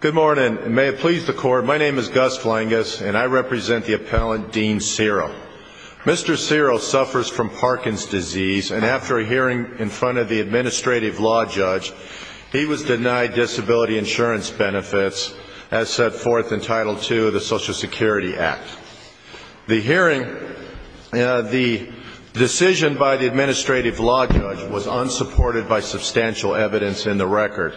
Good morning. May it please the court, my name is Gus Flangus and I represent the appellant Dean Cero. Mr. Cero suffers from Parkinson's disease and after a hearing in front of the administrative law judge, he was denied disability insurance benefits as set forth in Title II of the Social Security Act. The hearing, the decision by the administrative law judge was unsupported by substantial evidence in the record.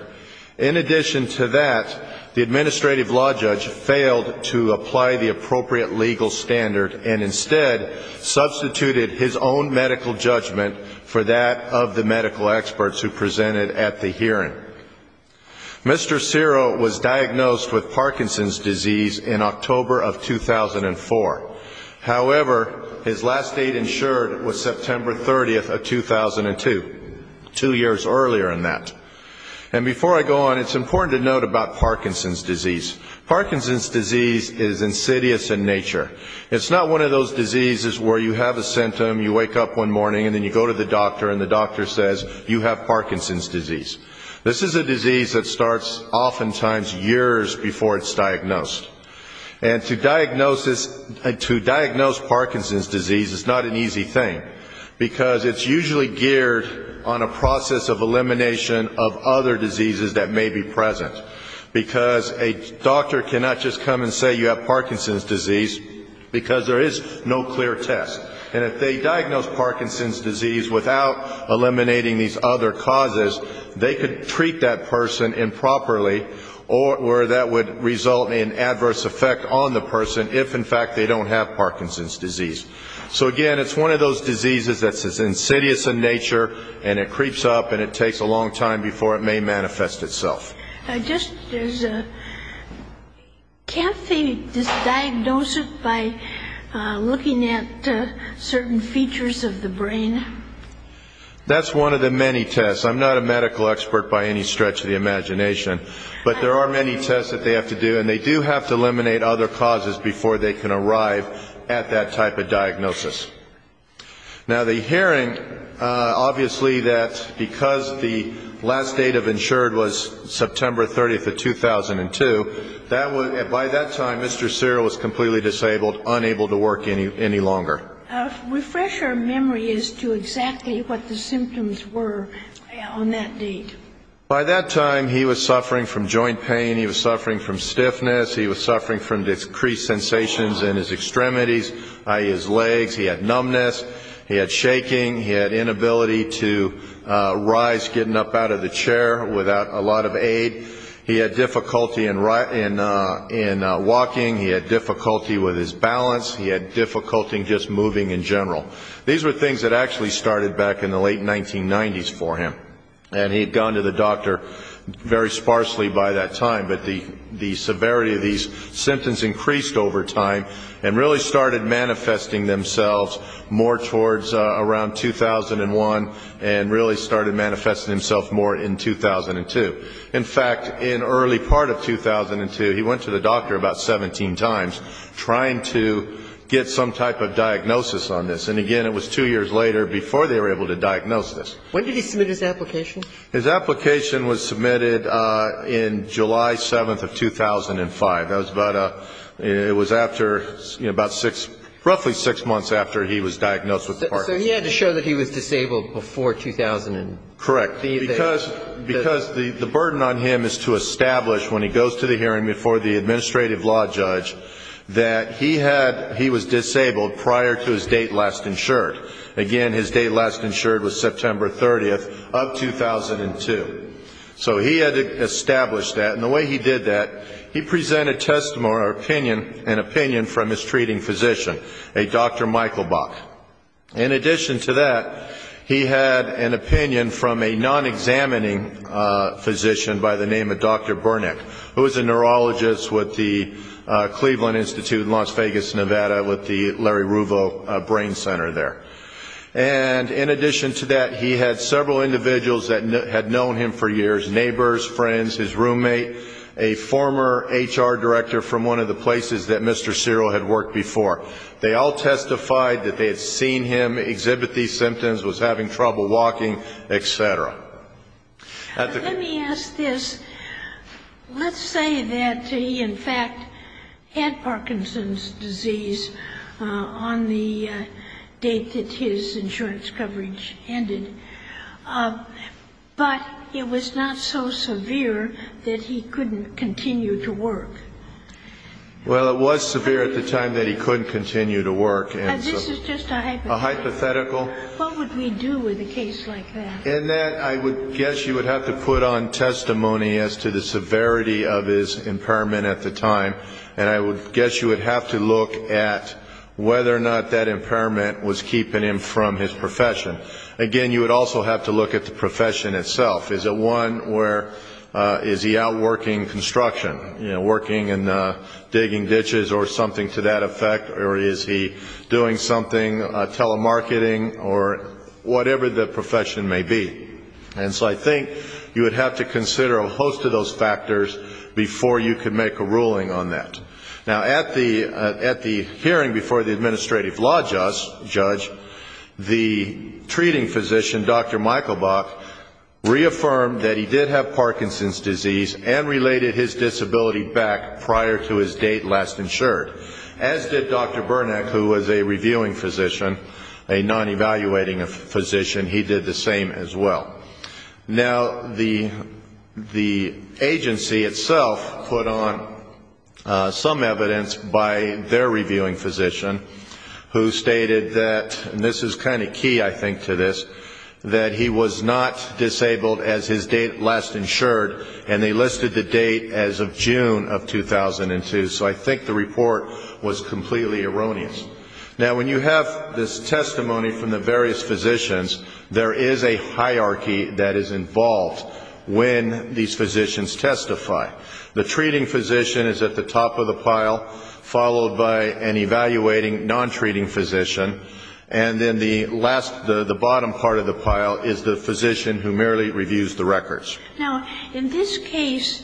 In addition to that, the administrative law judge failed to apply the appropriate legal standard and instead substituted his own medical judgment for that of the medical experts who presented at the hearing. Mr. Cero was diagnosed with Parkinson's disease in October of 2004. However, his last date insured was September 30th of 2002, two years earlier than that. And before I go on, it's important to note about Parkinson's disease. Parkinson's disease is insidious in nature. It's not one of those diseases where you have a symptom, you wake up one morning and then you go to the doctor and the doctor says, you have Parkinson's disease. This is a disease that starts oftentimes years before it's diagnosed. And to diagnose Parkinson's disease is not an easy thing because it's usually geared on a process of elimination of other diseases that may be present. Because a doctor cannot just come and say you have Parkinson's disease because there is no clear test. And if they diagnose Parkinson's disease without eliminating these other causes, they could treat that person improperly or that would result in adverse effect on the person if, in fact, they don't have Parkinson's disease. So again, it's one of those diseases that's insidious in nature and it creeps up and it takes a long time before it may manifest itself. Can't they just diagnose it by looking at certain features of the brain? That's one of the many tests. I'm not a medical expert by any stretch of the imagination, but there are many tests that they have to do and they do have to Now, the hearing, obviously that because the last date of insured was September 30th of 2002, by that time Mr. Cyril was completely disabled, unable to work any longer. Refresh our memory as to exactly what the symptoms were on that date. By that time, he was suffering from joint pain. He was suffering from stiffness. He was suffering from decreased sensations in his extremities, i.e., his legs. He had numbness. He had shaking. He had inability to rise, getting up out of the chair without a lot of aid. He had difficulty in walking. He had difficulty with his balance. He had difficulty just moving in general. These were things that actually started back in the late 1990s for him. And he had gone to the doctor very sparsely by that time, but the severity of these symptoms increased over time and really started manifesting themselves more towards around 2001 and really started manifesting himself more in 2002. In fact, in early part of 2002, he went to the doctor about 17 times trying to get some type of diagnosis on this. And again, it was two years later before they were able to diagnose this. When did he submit his application? His application was submitted in July 7th of 2005. That was about a ‑‑ it was after, you know, about six, roughly six months after he was diagnosed with the Parkinson's disease. So he had to show that he was disabled before 2000 and ‑‑ Correct. Because the burden on him is to establish when he goes to the hearing before the administrative law judge that he had ‑‑ he was disabled prior to his state last insured was September 30th of 2002. So he had to establish that. And the way he did that, he presented testimony or opinion, an opinion from his treating physician, a Dr. Michael Bach. In addition to that, he had an opinion from a non‑examining physician by the name of Dr. Burnick, who was a neurologist with the Cleveland Institute in Las And in addition to that, he had several individuals that had known him for years, neighbors, friends, his roommate, a former HR director from one of the places that Mr. Cyril had worked before. They all testified that they had seen him, exhibit these symptoms, was having trouble walking, et cetera. Let me ask this. Let's say that he, in fact, had Parkinson's disease on the date that his insurance coverage ended, but it was not so severe that he couldn't continue to work. Well, it was severe at the time that he couldn't continue to work. This is just a hypothetical. A hypothetical. What would we do with a case like that? In that, I would guess you would have to put on testimony as to the severity of his impairment at the time, and I would guess you would have to look at whether or not that impairment was keeping him from his profession. Again, you would also have to look at the profession itself. Is it one where, is he out working construction, working and digging ditches or something to that effect, or is he doing something, telemarketing, or whatever the profession may be. And so I think you would have to consider a host of those factors before you could make a ruling on that. Now, at the hearing before the administrative law judge, the treating physician, Dr. Michael Buck, reaffirmed that he did have Parkinson's disease and related his disability back prior to his date last insured, as did Dr. Burnack, who was a reviewing physician, a non-evaluating physician. He did the same as well. Now, the agency itself put on some evidence by their reviewing physician, who stated that, and this is kind of key I think to this, that he was not disabled as his date last insured, and they listed the date as of June of 2002. So I think the report was completely erroneous. Now, when you have this testimony from the various physicians, there is a hierarchy that is involved when these physicians testify. The treating physician is at the top of the pile, followed by an evaluating, non-treating physician, and then the last, the bottom part of the pile is the physician who merely reviews the records. Now, in this case,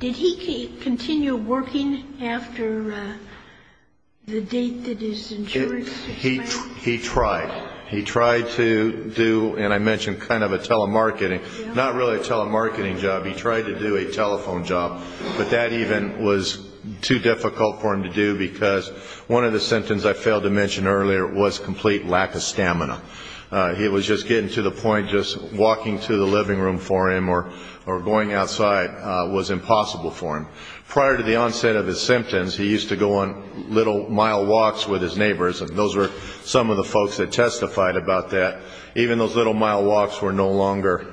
did he continue working after the date that is insured? He tried. He tried to do, and I mentioned kind of a telemarketing, not really a telemarketing job, he tried to do a telephone job, but that even was too difficult for him to do because one of the symptoms I failed to mention earlier was complete lack of stamina. He was just getting to the point just walking to the living room for him or going outside was impossible for him. Prior to the onset of his symptoms, he used to go on little mile walks with his neighbors, and those were some of the folks that testified about that. Even those little mile walks were no longer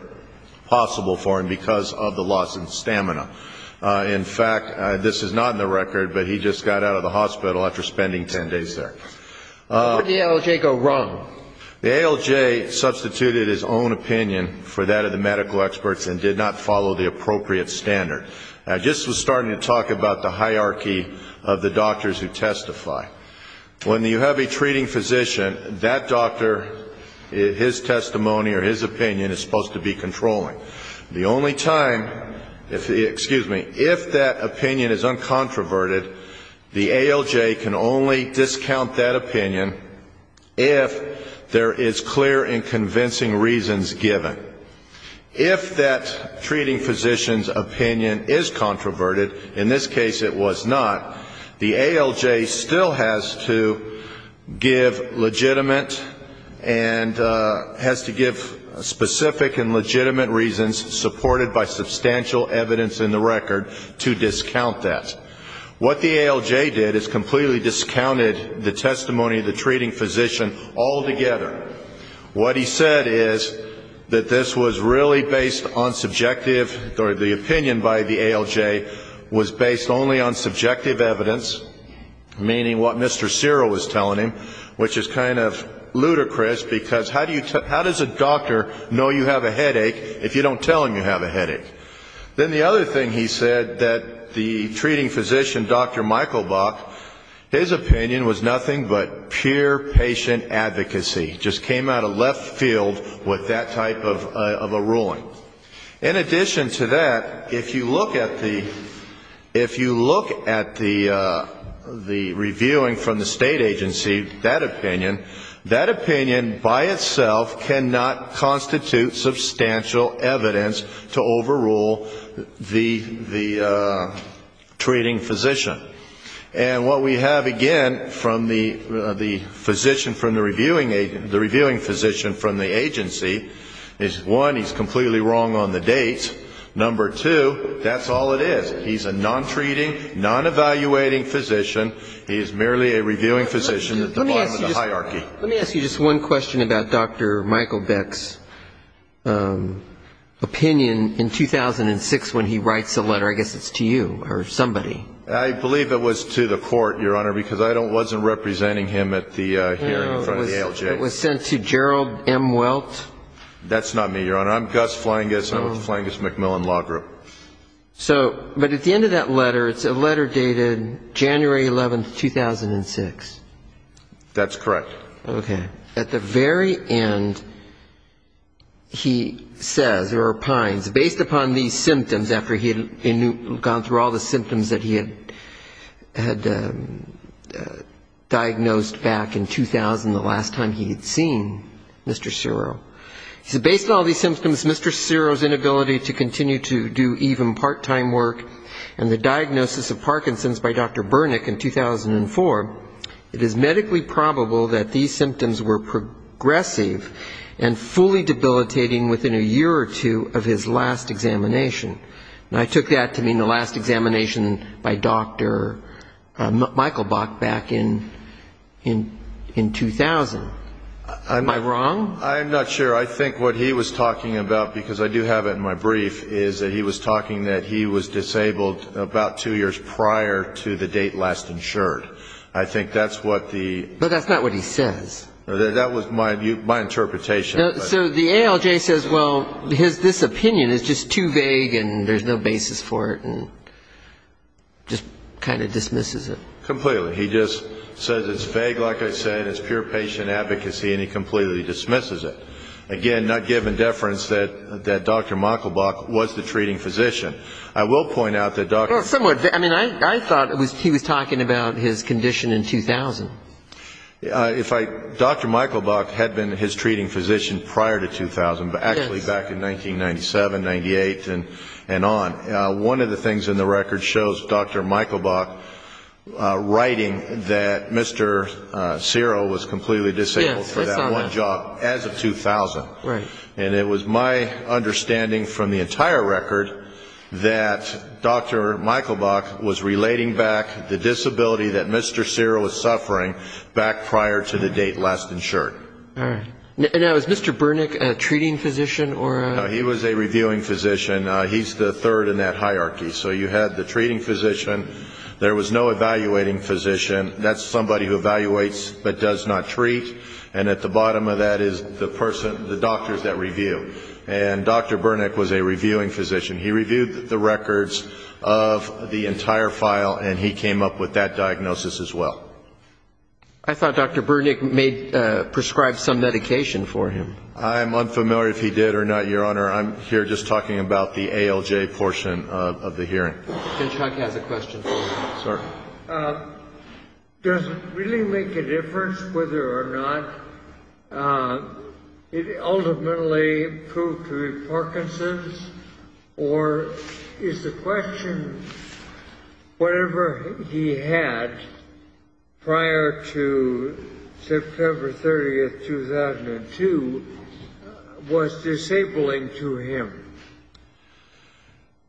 possible for him because of the loss in stamina. In fact, this is not in the record, but he just got out of the hospital after spending 10 days there. Where did the ALJ go wrong? The ALJ substituted his own opinion for that of the medical experts and did not follow the appropriate standard. I just was starting to talk about the hierarchy of the doctors who testify. When you have a treating physician, that doctor, his testimony or his opinion is supposed to be controlling. The only time, excuse me, if that opinion is uncontroverted, the ALJ can only discount that opinion if there is clear and convincing reasons given. If that treating physician's opinion is controverted, in this case it was not, the ALJ still has to give legitimate and has to give specific and legitimate reasons supported by substantial evidence in the record to discount that. What the ALJ did is completely discounted the testimony of the treating physician altogether. What he said is that this was really based on subjective or the opinion by the ALJ was based only on subjective evidence, meaning what Mr. Cyril was telling him, which is kind of ludicrous because how does a doctor know you have a Then the other thing he said that the treating physician, Dr. Michael Buck, his opinion was nothing but pure patient advocacy, just came out of left field with that type of a ruling. In addition to that, if you look at the reviewing from the state agency, that opinion, that opinion by itself cannot constitute substantial evidence to overrule the treating physician. And what we have again from the reviewing physician from the agency is, one, he's completely wrong on the dates. Number two, that's all it is. He's a non-treating, non-evaluating physician. He's merely a reviewing physician at the bottom of the hierarchy. Let me ask you just one question about Dr. Michael Beck's opinion in 2006 when he writes a letter. I guess it's to you or somebody. I believe it was to the court, Your Honor, because I wasn't representing him at the hearing in front of the ALJ. It was sent to Gerald M. Welt. That's not me, Your Honor. I'm Gus Flangus. I'm with Flangus MacMillan Law Group. But at the end of that letter, it's a letter dated January 11, 2006. That's correct. Okay. At the very end, he says, or opines, based upon these symptoms after he had gone through all the symptoms that he had diagnosed back in 2000, the last time he had seen Mr. Ciro, he said, based on all these symptoms, Mr. Ciro's inability to continue to do even part-time work and the diagnosis of Parkinson's by Dr. It is medically probable that these symptoms were progressive and fully debilitating within a year or two of his last examination. And I took that to mean the last examination by Dr. Michael Beck back in 2000. Am I wrong? I'm not sure. I think what he was talking about, because I do have it in my brief, is that he was talking that he was disabled about two years prior to the date last insured. I think that's what the, but that's not what he says. That was my view, my interpretation. So the ALJ says, well, his, this opinion is just too vague and there's no basis for it and just kind of dismisses it completely. He just says it's vague. Like I said, it's pure patient advocacy and he completely dismisses it again. Not given deference that that Dr. Michael Bach was the treating physician. I will point out that Dr. Michael Bach had been his treating physician prior to 2000, but actually back in 1997, 98 and and on one of the things in the record shows Dr. Michael Bach writing that Mr. Cyril was completely disabled for that one job as of 2000. And it was my understanding from the entire record that Dr. Michael Bach was relating back the disability that Mr. Cyril was suffering back prior to the date last insured. Now is Mr. Burnick a treating physician or he was a reviewing physician. He's the third in that hierarchy. So you had the treating physician. There was no evaluating physician. That's somebody who evaluates but does not treat and at the bottom of that is the person the doctors that review and Dr. Burnick was a reviewing physician. He reviewed the records of the entire file and he came up with that diagnosis as well. I thought Dr. Burnick made prescribed some medication for him. I'm unfamiliar if he did or not your honor. I'm here just talking about the ALJ portion of the hearing. Does really make a difference whether or not it ultimately proved to be Parkinson's or is the question whatever he had prior to September 30th 2002 was disabling to him.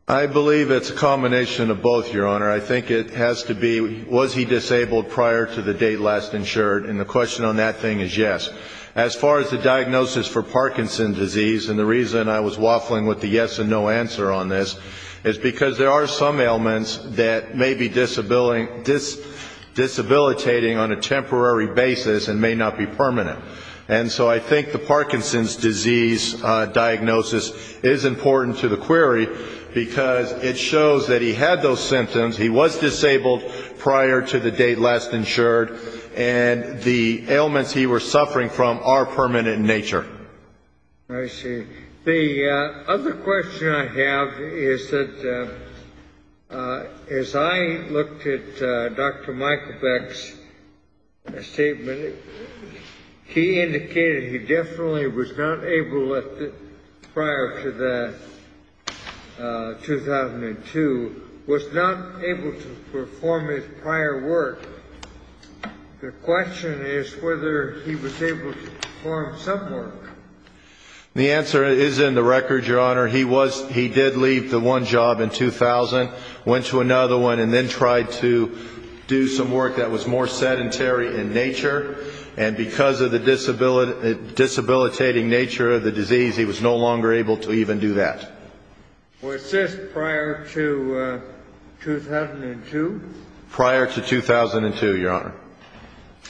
I believe it's a combination of both your honor. I think it has to be was he disabled prior to the date last insured and the question on that thing is yes. As far as the diagnosis for Parkinson's disease and the reason I was waffling with the yes and no answer on this is because there are some ailments that may be disability this disabilitating on a temporary basis and may not be permanent and so I think the Parkinson's disease diagnosis is important to the query because it shows that he had those symptoms. He was disabled prior to the date last insured and the ailments he were suffering from are permanent in nature. I see the other question I have is that as I looked at dr. Michael Beck's statement. He indicated he definitely was not able at the prior to the 2002 was not able to perform his prior work. The question is whether he was able to perform some work. The answer is in the record your honor. He was he did leave the one job in 2000 went to another one and then tried to do some work that was more sedentary in nature and because of the disability disabilitating nature of the disease. He was no longer able to even do that. Was this prior to 2002 prior to 2002 your honor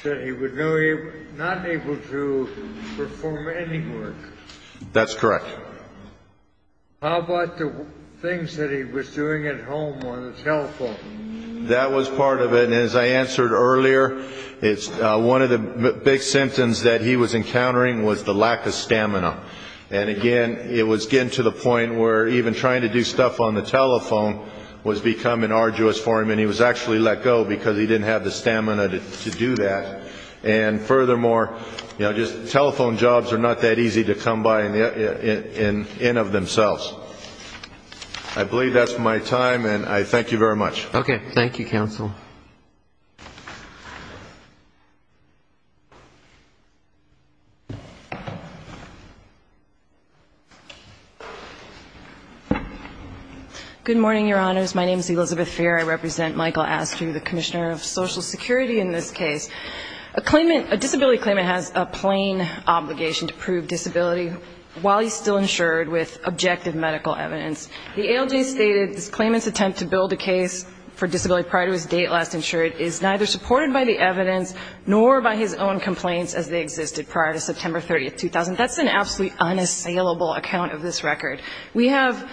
that he would know you not able to perform any work. That's correct. How about the things that he was doing at home on the telephone that was part of it and as I answered earlier, it's one of the big symptoms that he was encountering was the lack of stamina and again, it was getting to the point where even trying to do stuff on the telephone was becoming arduous for him and he was actually let go because he didn't have the stamina to do that and furthermore, you know, just telephone jobs are not that easy to come by in of themselves. I believe that's my time and I thank you very much. Okay. Thank you counsel. Good morning, your honors. My name is Elizabeth Fair. I represent Michael Astru, the commissioner of Social Security in this case. A claimant, a disability claimant has a plain obligation to prove disability while he's still insured with objective medical evidence. The ALJ stated this claimant's attempt to build a case for disability prior to his date last insured is neither supported by the evidence nor by his own complaints as they existed prior to September 30th, 2000. That's an absolutely unassailable account of this record. We have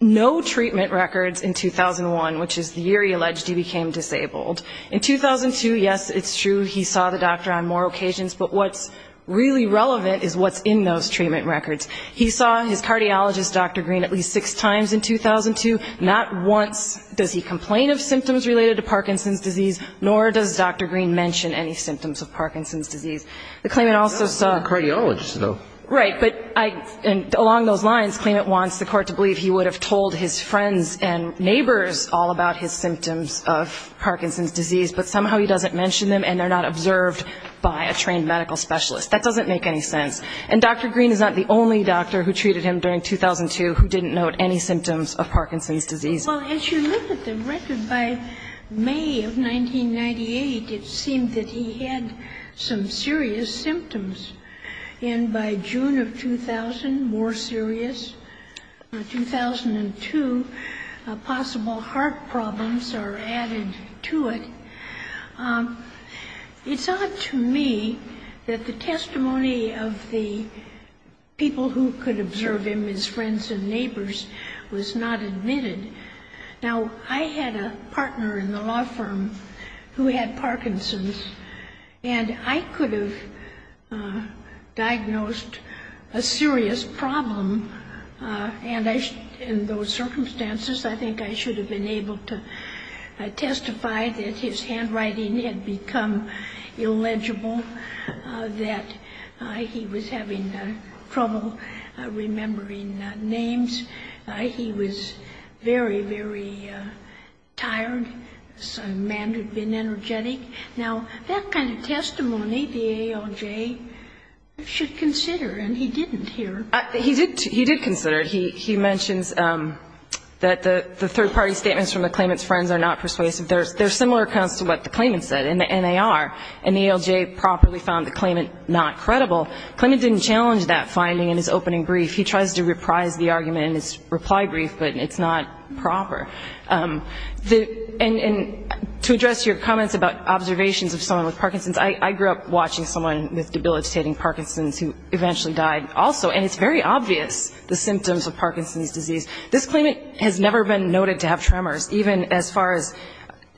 no treatment records in 2001, which is the year he alleged he became disabled. In 2002, yes, it's true. He saw the doctor on more occasions, but what's really relevant is what's in those treatment records. He saw his cardiologist, Dr. Green, at least six times in 2002. Not once does he complain of symptoms related to Parkinson's disease, nor does Green mention any symptoms of Parkinson's disease. The claimant also saw... He's a cardiologist, though. Right. But I, and along those lines, claimant wants the court to believe he would have told his friends and neighbors all about his symptoms of Parkinson's disease, but somehow he doesn't mention them and they're not observed by a trained medical specialist. That doesn't make any sense. And Dr. Green is not the only doctor who treated him during 2002 who didn't note any symptoms of Parkinson's disease. Well, as you look at the record, by May of 1998, it seemed that he had some serious symptoms. And by June of 2000, more serious. In 2002, possible heart problems are added to it. It's odd to me that the testimony of the people who could observe him, his friends and neighbors, was not admitted. Now, I had a partner in the law firm who had Parkinson's and I could have diagnosed a serious problem. And in those circumstances, I think I should have been able to testify that his handwriting had become illegible, that he was having trouble remembering names. He was very, very tired. A man who'd been energetic. Now, that kind of testimony, the ALJ should consider, and he didn't here. He did consider it. He mentions that the third-party statements from the claimant's friends are not persuasive. They're similar accounts to what the claimant said in the NAR, and the ALJ properly found the claimant not credible. Claimant didn't challenge that finding in his opening brief. He tries to reprise the argument in his reply brief, but it's not proper. And to address your comments about observations of someone with Parkinson's, I grew up watching someone with debilitating Parkinson's who eventually died also. And it's very obvious, the symptoms of Parkinson's disease. This claimant has never been noted to have tremors, even as far as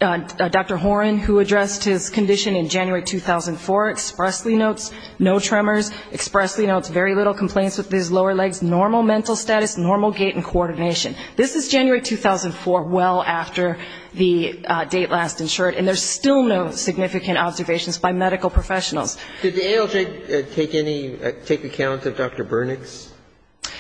Dr. Horan, who addressed his condition in January 2004, expressly notes no tremors, expressly notes very little complaints with his lower legs, normal mental status, normal gait and coordination. This is January 2004, well after the date last insured, and there's still no significant observations by medical professionals. Did the ALJ take any, take account of Dr. Bernick's?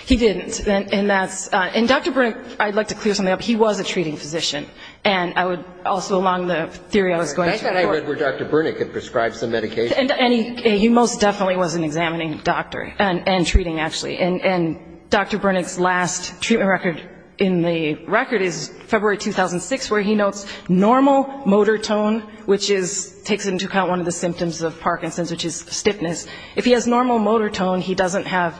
He didn't. And that's, and Dr. Bernick, I'd like to clear something up. He was a treating physician. And I would also, along the theory I was going to. I thought I read where Dr. Bernick had prescribed some medication. And he most definitely was an examining doctor and treating, actually. And Dr. Bernick's last treatment record in the record is February 2006, where he notes normal motor tone, which is, takes into account one of the symptoms of Parkinson's, which is stiffness. If he has normal motor tone, he doesn't have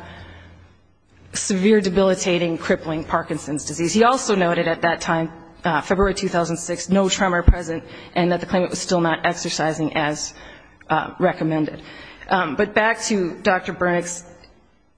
severe debilitating, crippling Parkinson's disease. He also noted at that time, February 2006, no tremor present and that the claimant was still not exercising as recommended. But back to Dr. Bernick's,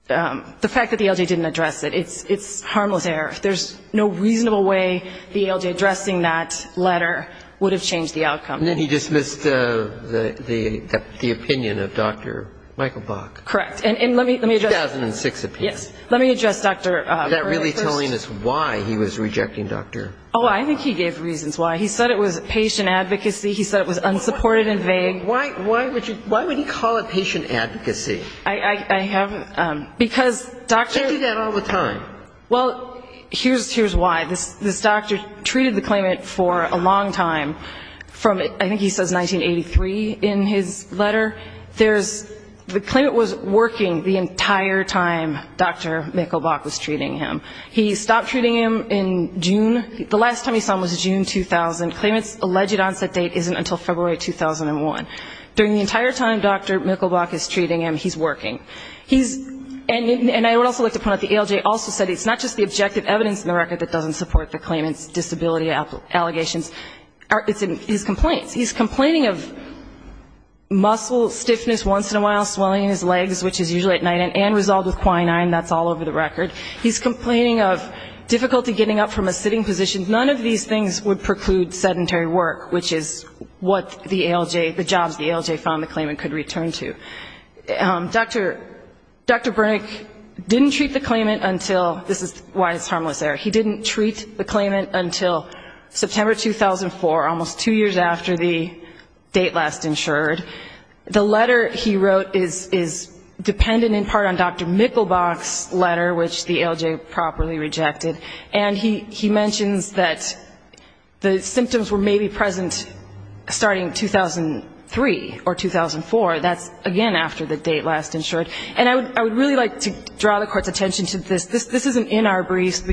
the fact that the ALJ didn't address it. It's, it's harmless error. There's no reasonable way the ALJ addressing that letter would have changed the outcome. And then he dismissed the, the, the opinion of Dr. Michael Bach. Correct. And let me, let me address. 2006 opinion. Yes. Let me address Dr. Bernick first. Is that really telling us why he was rejecting Dr. Bernick? Oh, I think he gave reasons why. He said it was patient advocacy. He said it was unsupported and vague. Why, why would you, why would he call it patient advocacy? I, I, I haven't, because Dr. You say that all the time. Well, here's, here's why. This, this doctor treated the claimant for a long time from, I think he says 1983 in his letter. There's, the claimant was working the entire time Dr. Michael Bach was treating him. He stopped treating him in June. The last time he saw him was June 2000. Claimant's alleged onset date isn't until February 2001. During the entire time Dr. Michael Bach is treating him, he's working. He's, and I would also like to point out the ALJ also said it's not just the objective evidence in the record that doesn't support the claimant's disability allegations. It's in his complaints. He's complaining of muscle stiffness once in a while, swelling in his legs, which is usually at night and resolved with quinine. That's all over the record. He's complaining of difficulty getting up from a sitting position. None of these things would preclude sedentary work, which is what the ALJ, the jobs the ALJ found the claimant could return to. Dr. Dr. Brink didn't treat the claimant until, this is why it's harmless there. He didn't treat the claimant until September 2004, almost two years after the date last insured. The letter he wrote is, is dependent in part on Dr. Michael Bach's letter, which the ALJ properly rejected. And he, he mentions that the symptoms were maybe present starting 2003 or 2004. That's again, after the date last insured. And I would, I would really like to draw the court's attention to this. This, this isn't in our briefs,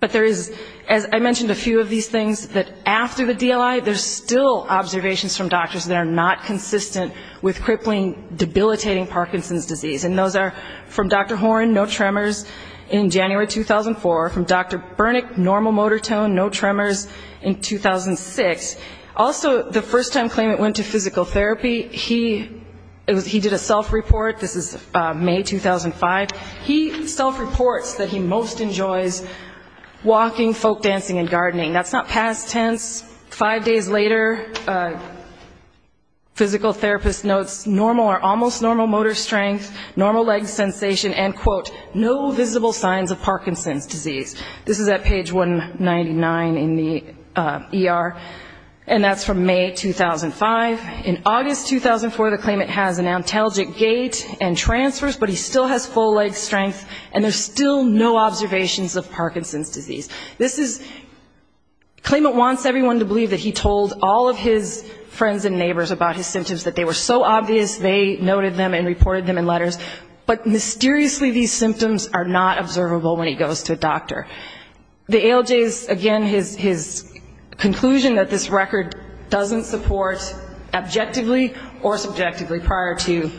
but there is, as I mentioned, a few of these things that after the DLI, there's still observations from doctors that are not consistent with crippling, debilitating Parkinson's disease. And those are from Dr. Horn, no tremors in January, 2004. From Dr. Burnick, normal motor tone, no tremors in 2006. Also, the first time claimant went to physical therapy, he, it was, he did a self-report. This is May 2005. He self-reports that he most enjoys walking, folk dancing, and gardening. That's not past tense. Five days later, a physical therapist notes normal or almost normal motor strength, normal leg sensation, and, quote, no visible signs of Parkinson's disease. This is at page 199 in the ER. And that's from May 2005. In August 2004, the claimant has an antalgic gait and transfers, but he still has full leg strength, and there's still no observations of Parkinson's disease. This is, claimant wants everyone to believe that he told all of his friends and neighbors about his symptoms, that they were so obvious, they noted them and reported them in letters. But mysteriously, these symptoms are not observable when he goes to a doctor. The ALJ's, again, his, his conclusion that this record doesn't support objectively or subjectively prior to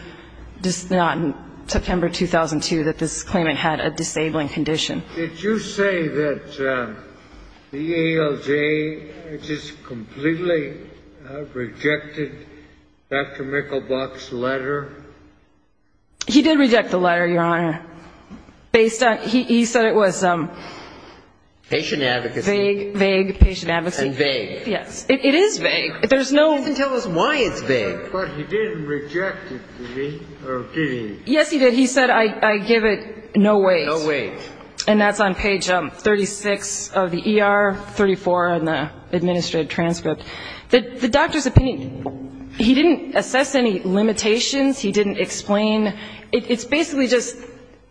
this, not in September 2002, that this claimant had a disabling condition. Did you say that the ALJ just completely rejected Dr. Mickelbach's letter? He did reject the letter, Your Honor. Based on, he said it was, um. Patient advocacy. Vague, vague patient advocacy. And vague. Yes. It is vague. There's no. He didn't tell us why it's vague. But he didn't reject it, did he, or did he? Yes, he did. He said, I give it no weight. No weight. And that's on page 36 of the ER, 34 in the administrative transcript. The doctor's opinion, he didn't assess any limitations. He didn't explain. It's basically just,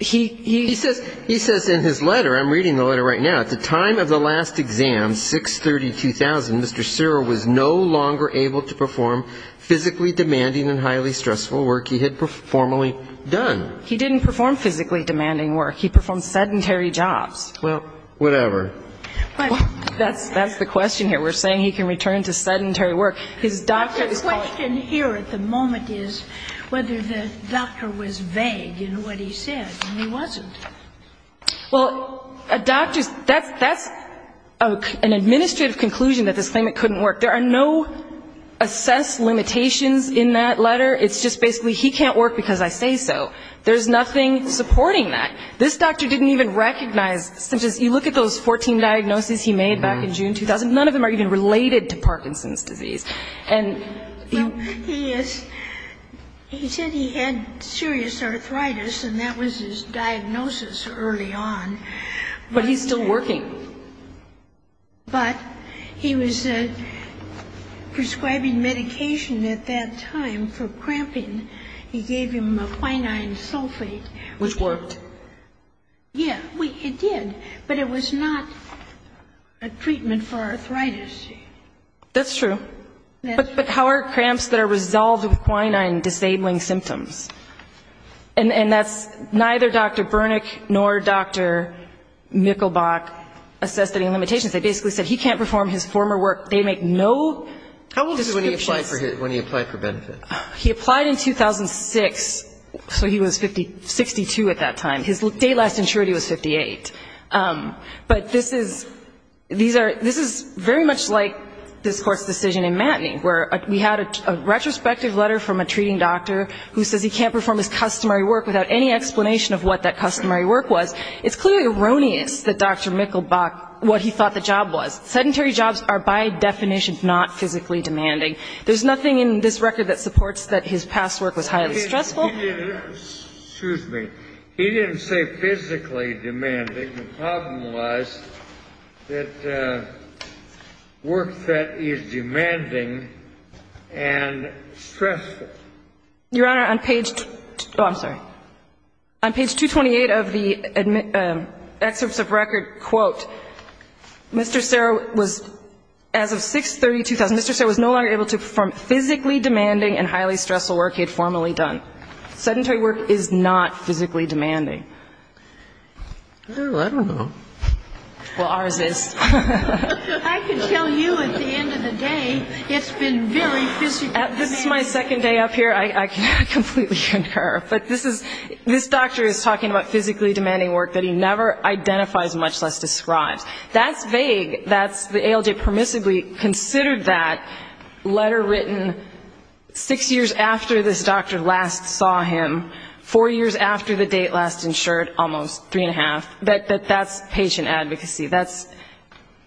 he, he. He says, he says in his letter, I'm reading the letter right now. At the time of the last exam, 6-30-2000, Mr. Cyril was no longer able to perform physically demanding and highly stressful work he had formerly done. He didn't perform physically demanding work. He performed sedentary jobs. Well, whatever. But that's, that's the question here. We're saying he can return to sedentary work. His doctor is. The question here at the moment is whether the doctor was vague in what he said, and he wasn't. Well, a doctor's, that's, that's an administrative conclusion that this claimant couldn't work. There are no assessed limitations in that letter. It's just basically, he can't work because I say so. There's nothing supporting that. This doctor didn't even recognize symptoms. You look at those 14 diagnoses he made back in June 2000, none of them are even related to Parkinson's disease. And he is, he said he had serious arthritis and that was his diagnosis early on. But he's still working. But he was prescribing medication at that time for cramping. He gave him a quinine sulfate. Which worked. Yeah, it did, but it was not a treatment for arthritis. That's true. But, but how are cramps that are resolved with quinine disabling symptoms? And, and that's neither Dr. Burnick nor Dr. Mikkelbach assessed any limitations. They basically said he can't perform his former work. They make no. How old was he when he applied for, when he applied for benefits? He applied in 2006. So he was 50, 62 at that time. His date last insured he was 58. But this is, these are, this is very much like this court's decision in Antony, where we had a retrospective letter from a treating doctor who says he can't perform his customary work without any explanation of what that customary work was. It's clearly erroneous that Dr. Mikkelbach, what he thought the job was. Sedentary jobs are by definition not physically demanding. There's nothing in this record that supports that his past work was highly stressful. Excuse me. He didn't say physically demanding. The problem was that work that is demanding and stressful. Your Honor, on page, oh, I'm sorry. On page 228 of the excerpts of record, quote, Mr. Serra was, as of 6-32,000, Mr. Serra was no longer able to perform physically demanding and highly stressful work he had formerly done. Sedentary work is not physically demanding. Well, I don't know. Well, ours is. I can tell you at the end of the day, it's been very physically demanding. This is my second day up here. I completely concur. But this is, this doctor is talking about physically demanding work that he never identifies, much less describes. That's vague. That's, the ALJ permissibly considered that letter written six years after this doctor last saw him, four years after the date last interviewed him. He's insured almost three and a half, but that's patient advocacy. That's,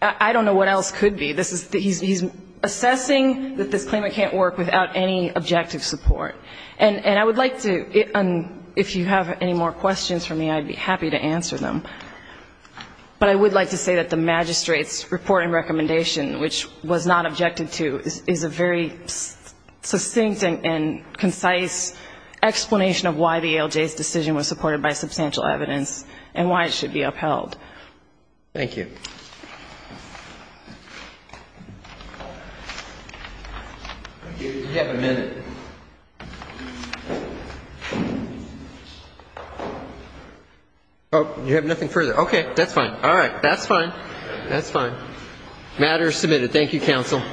I don't know what else could be. This is, he's assessing that this claimant can't work without any objective support. And I would like to, if you have any more questions for me, I'd be happy to answer them. But I would like to say that the magistrate's reporting recommendation, which was not objected to, is a very succinct and concise explanation of why this is substantial evidence and why it should be upheld. Thank you. You have a minute. Oh, you have nothing further. Okay. That's fine. All right. That's fine. Matter is submitted. Thank you, counsel.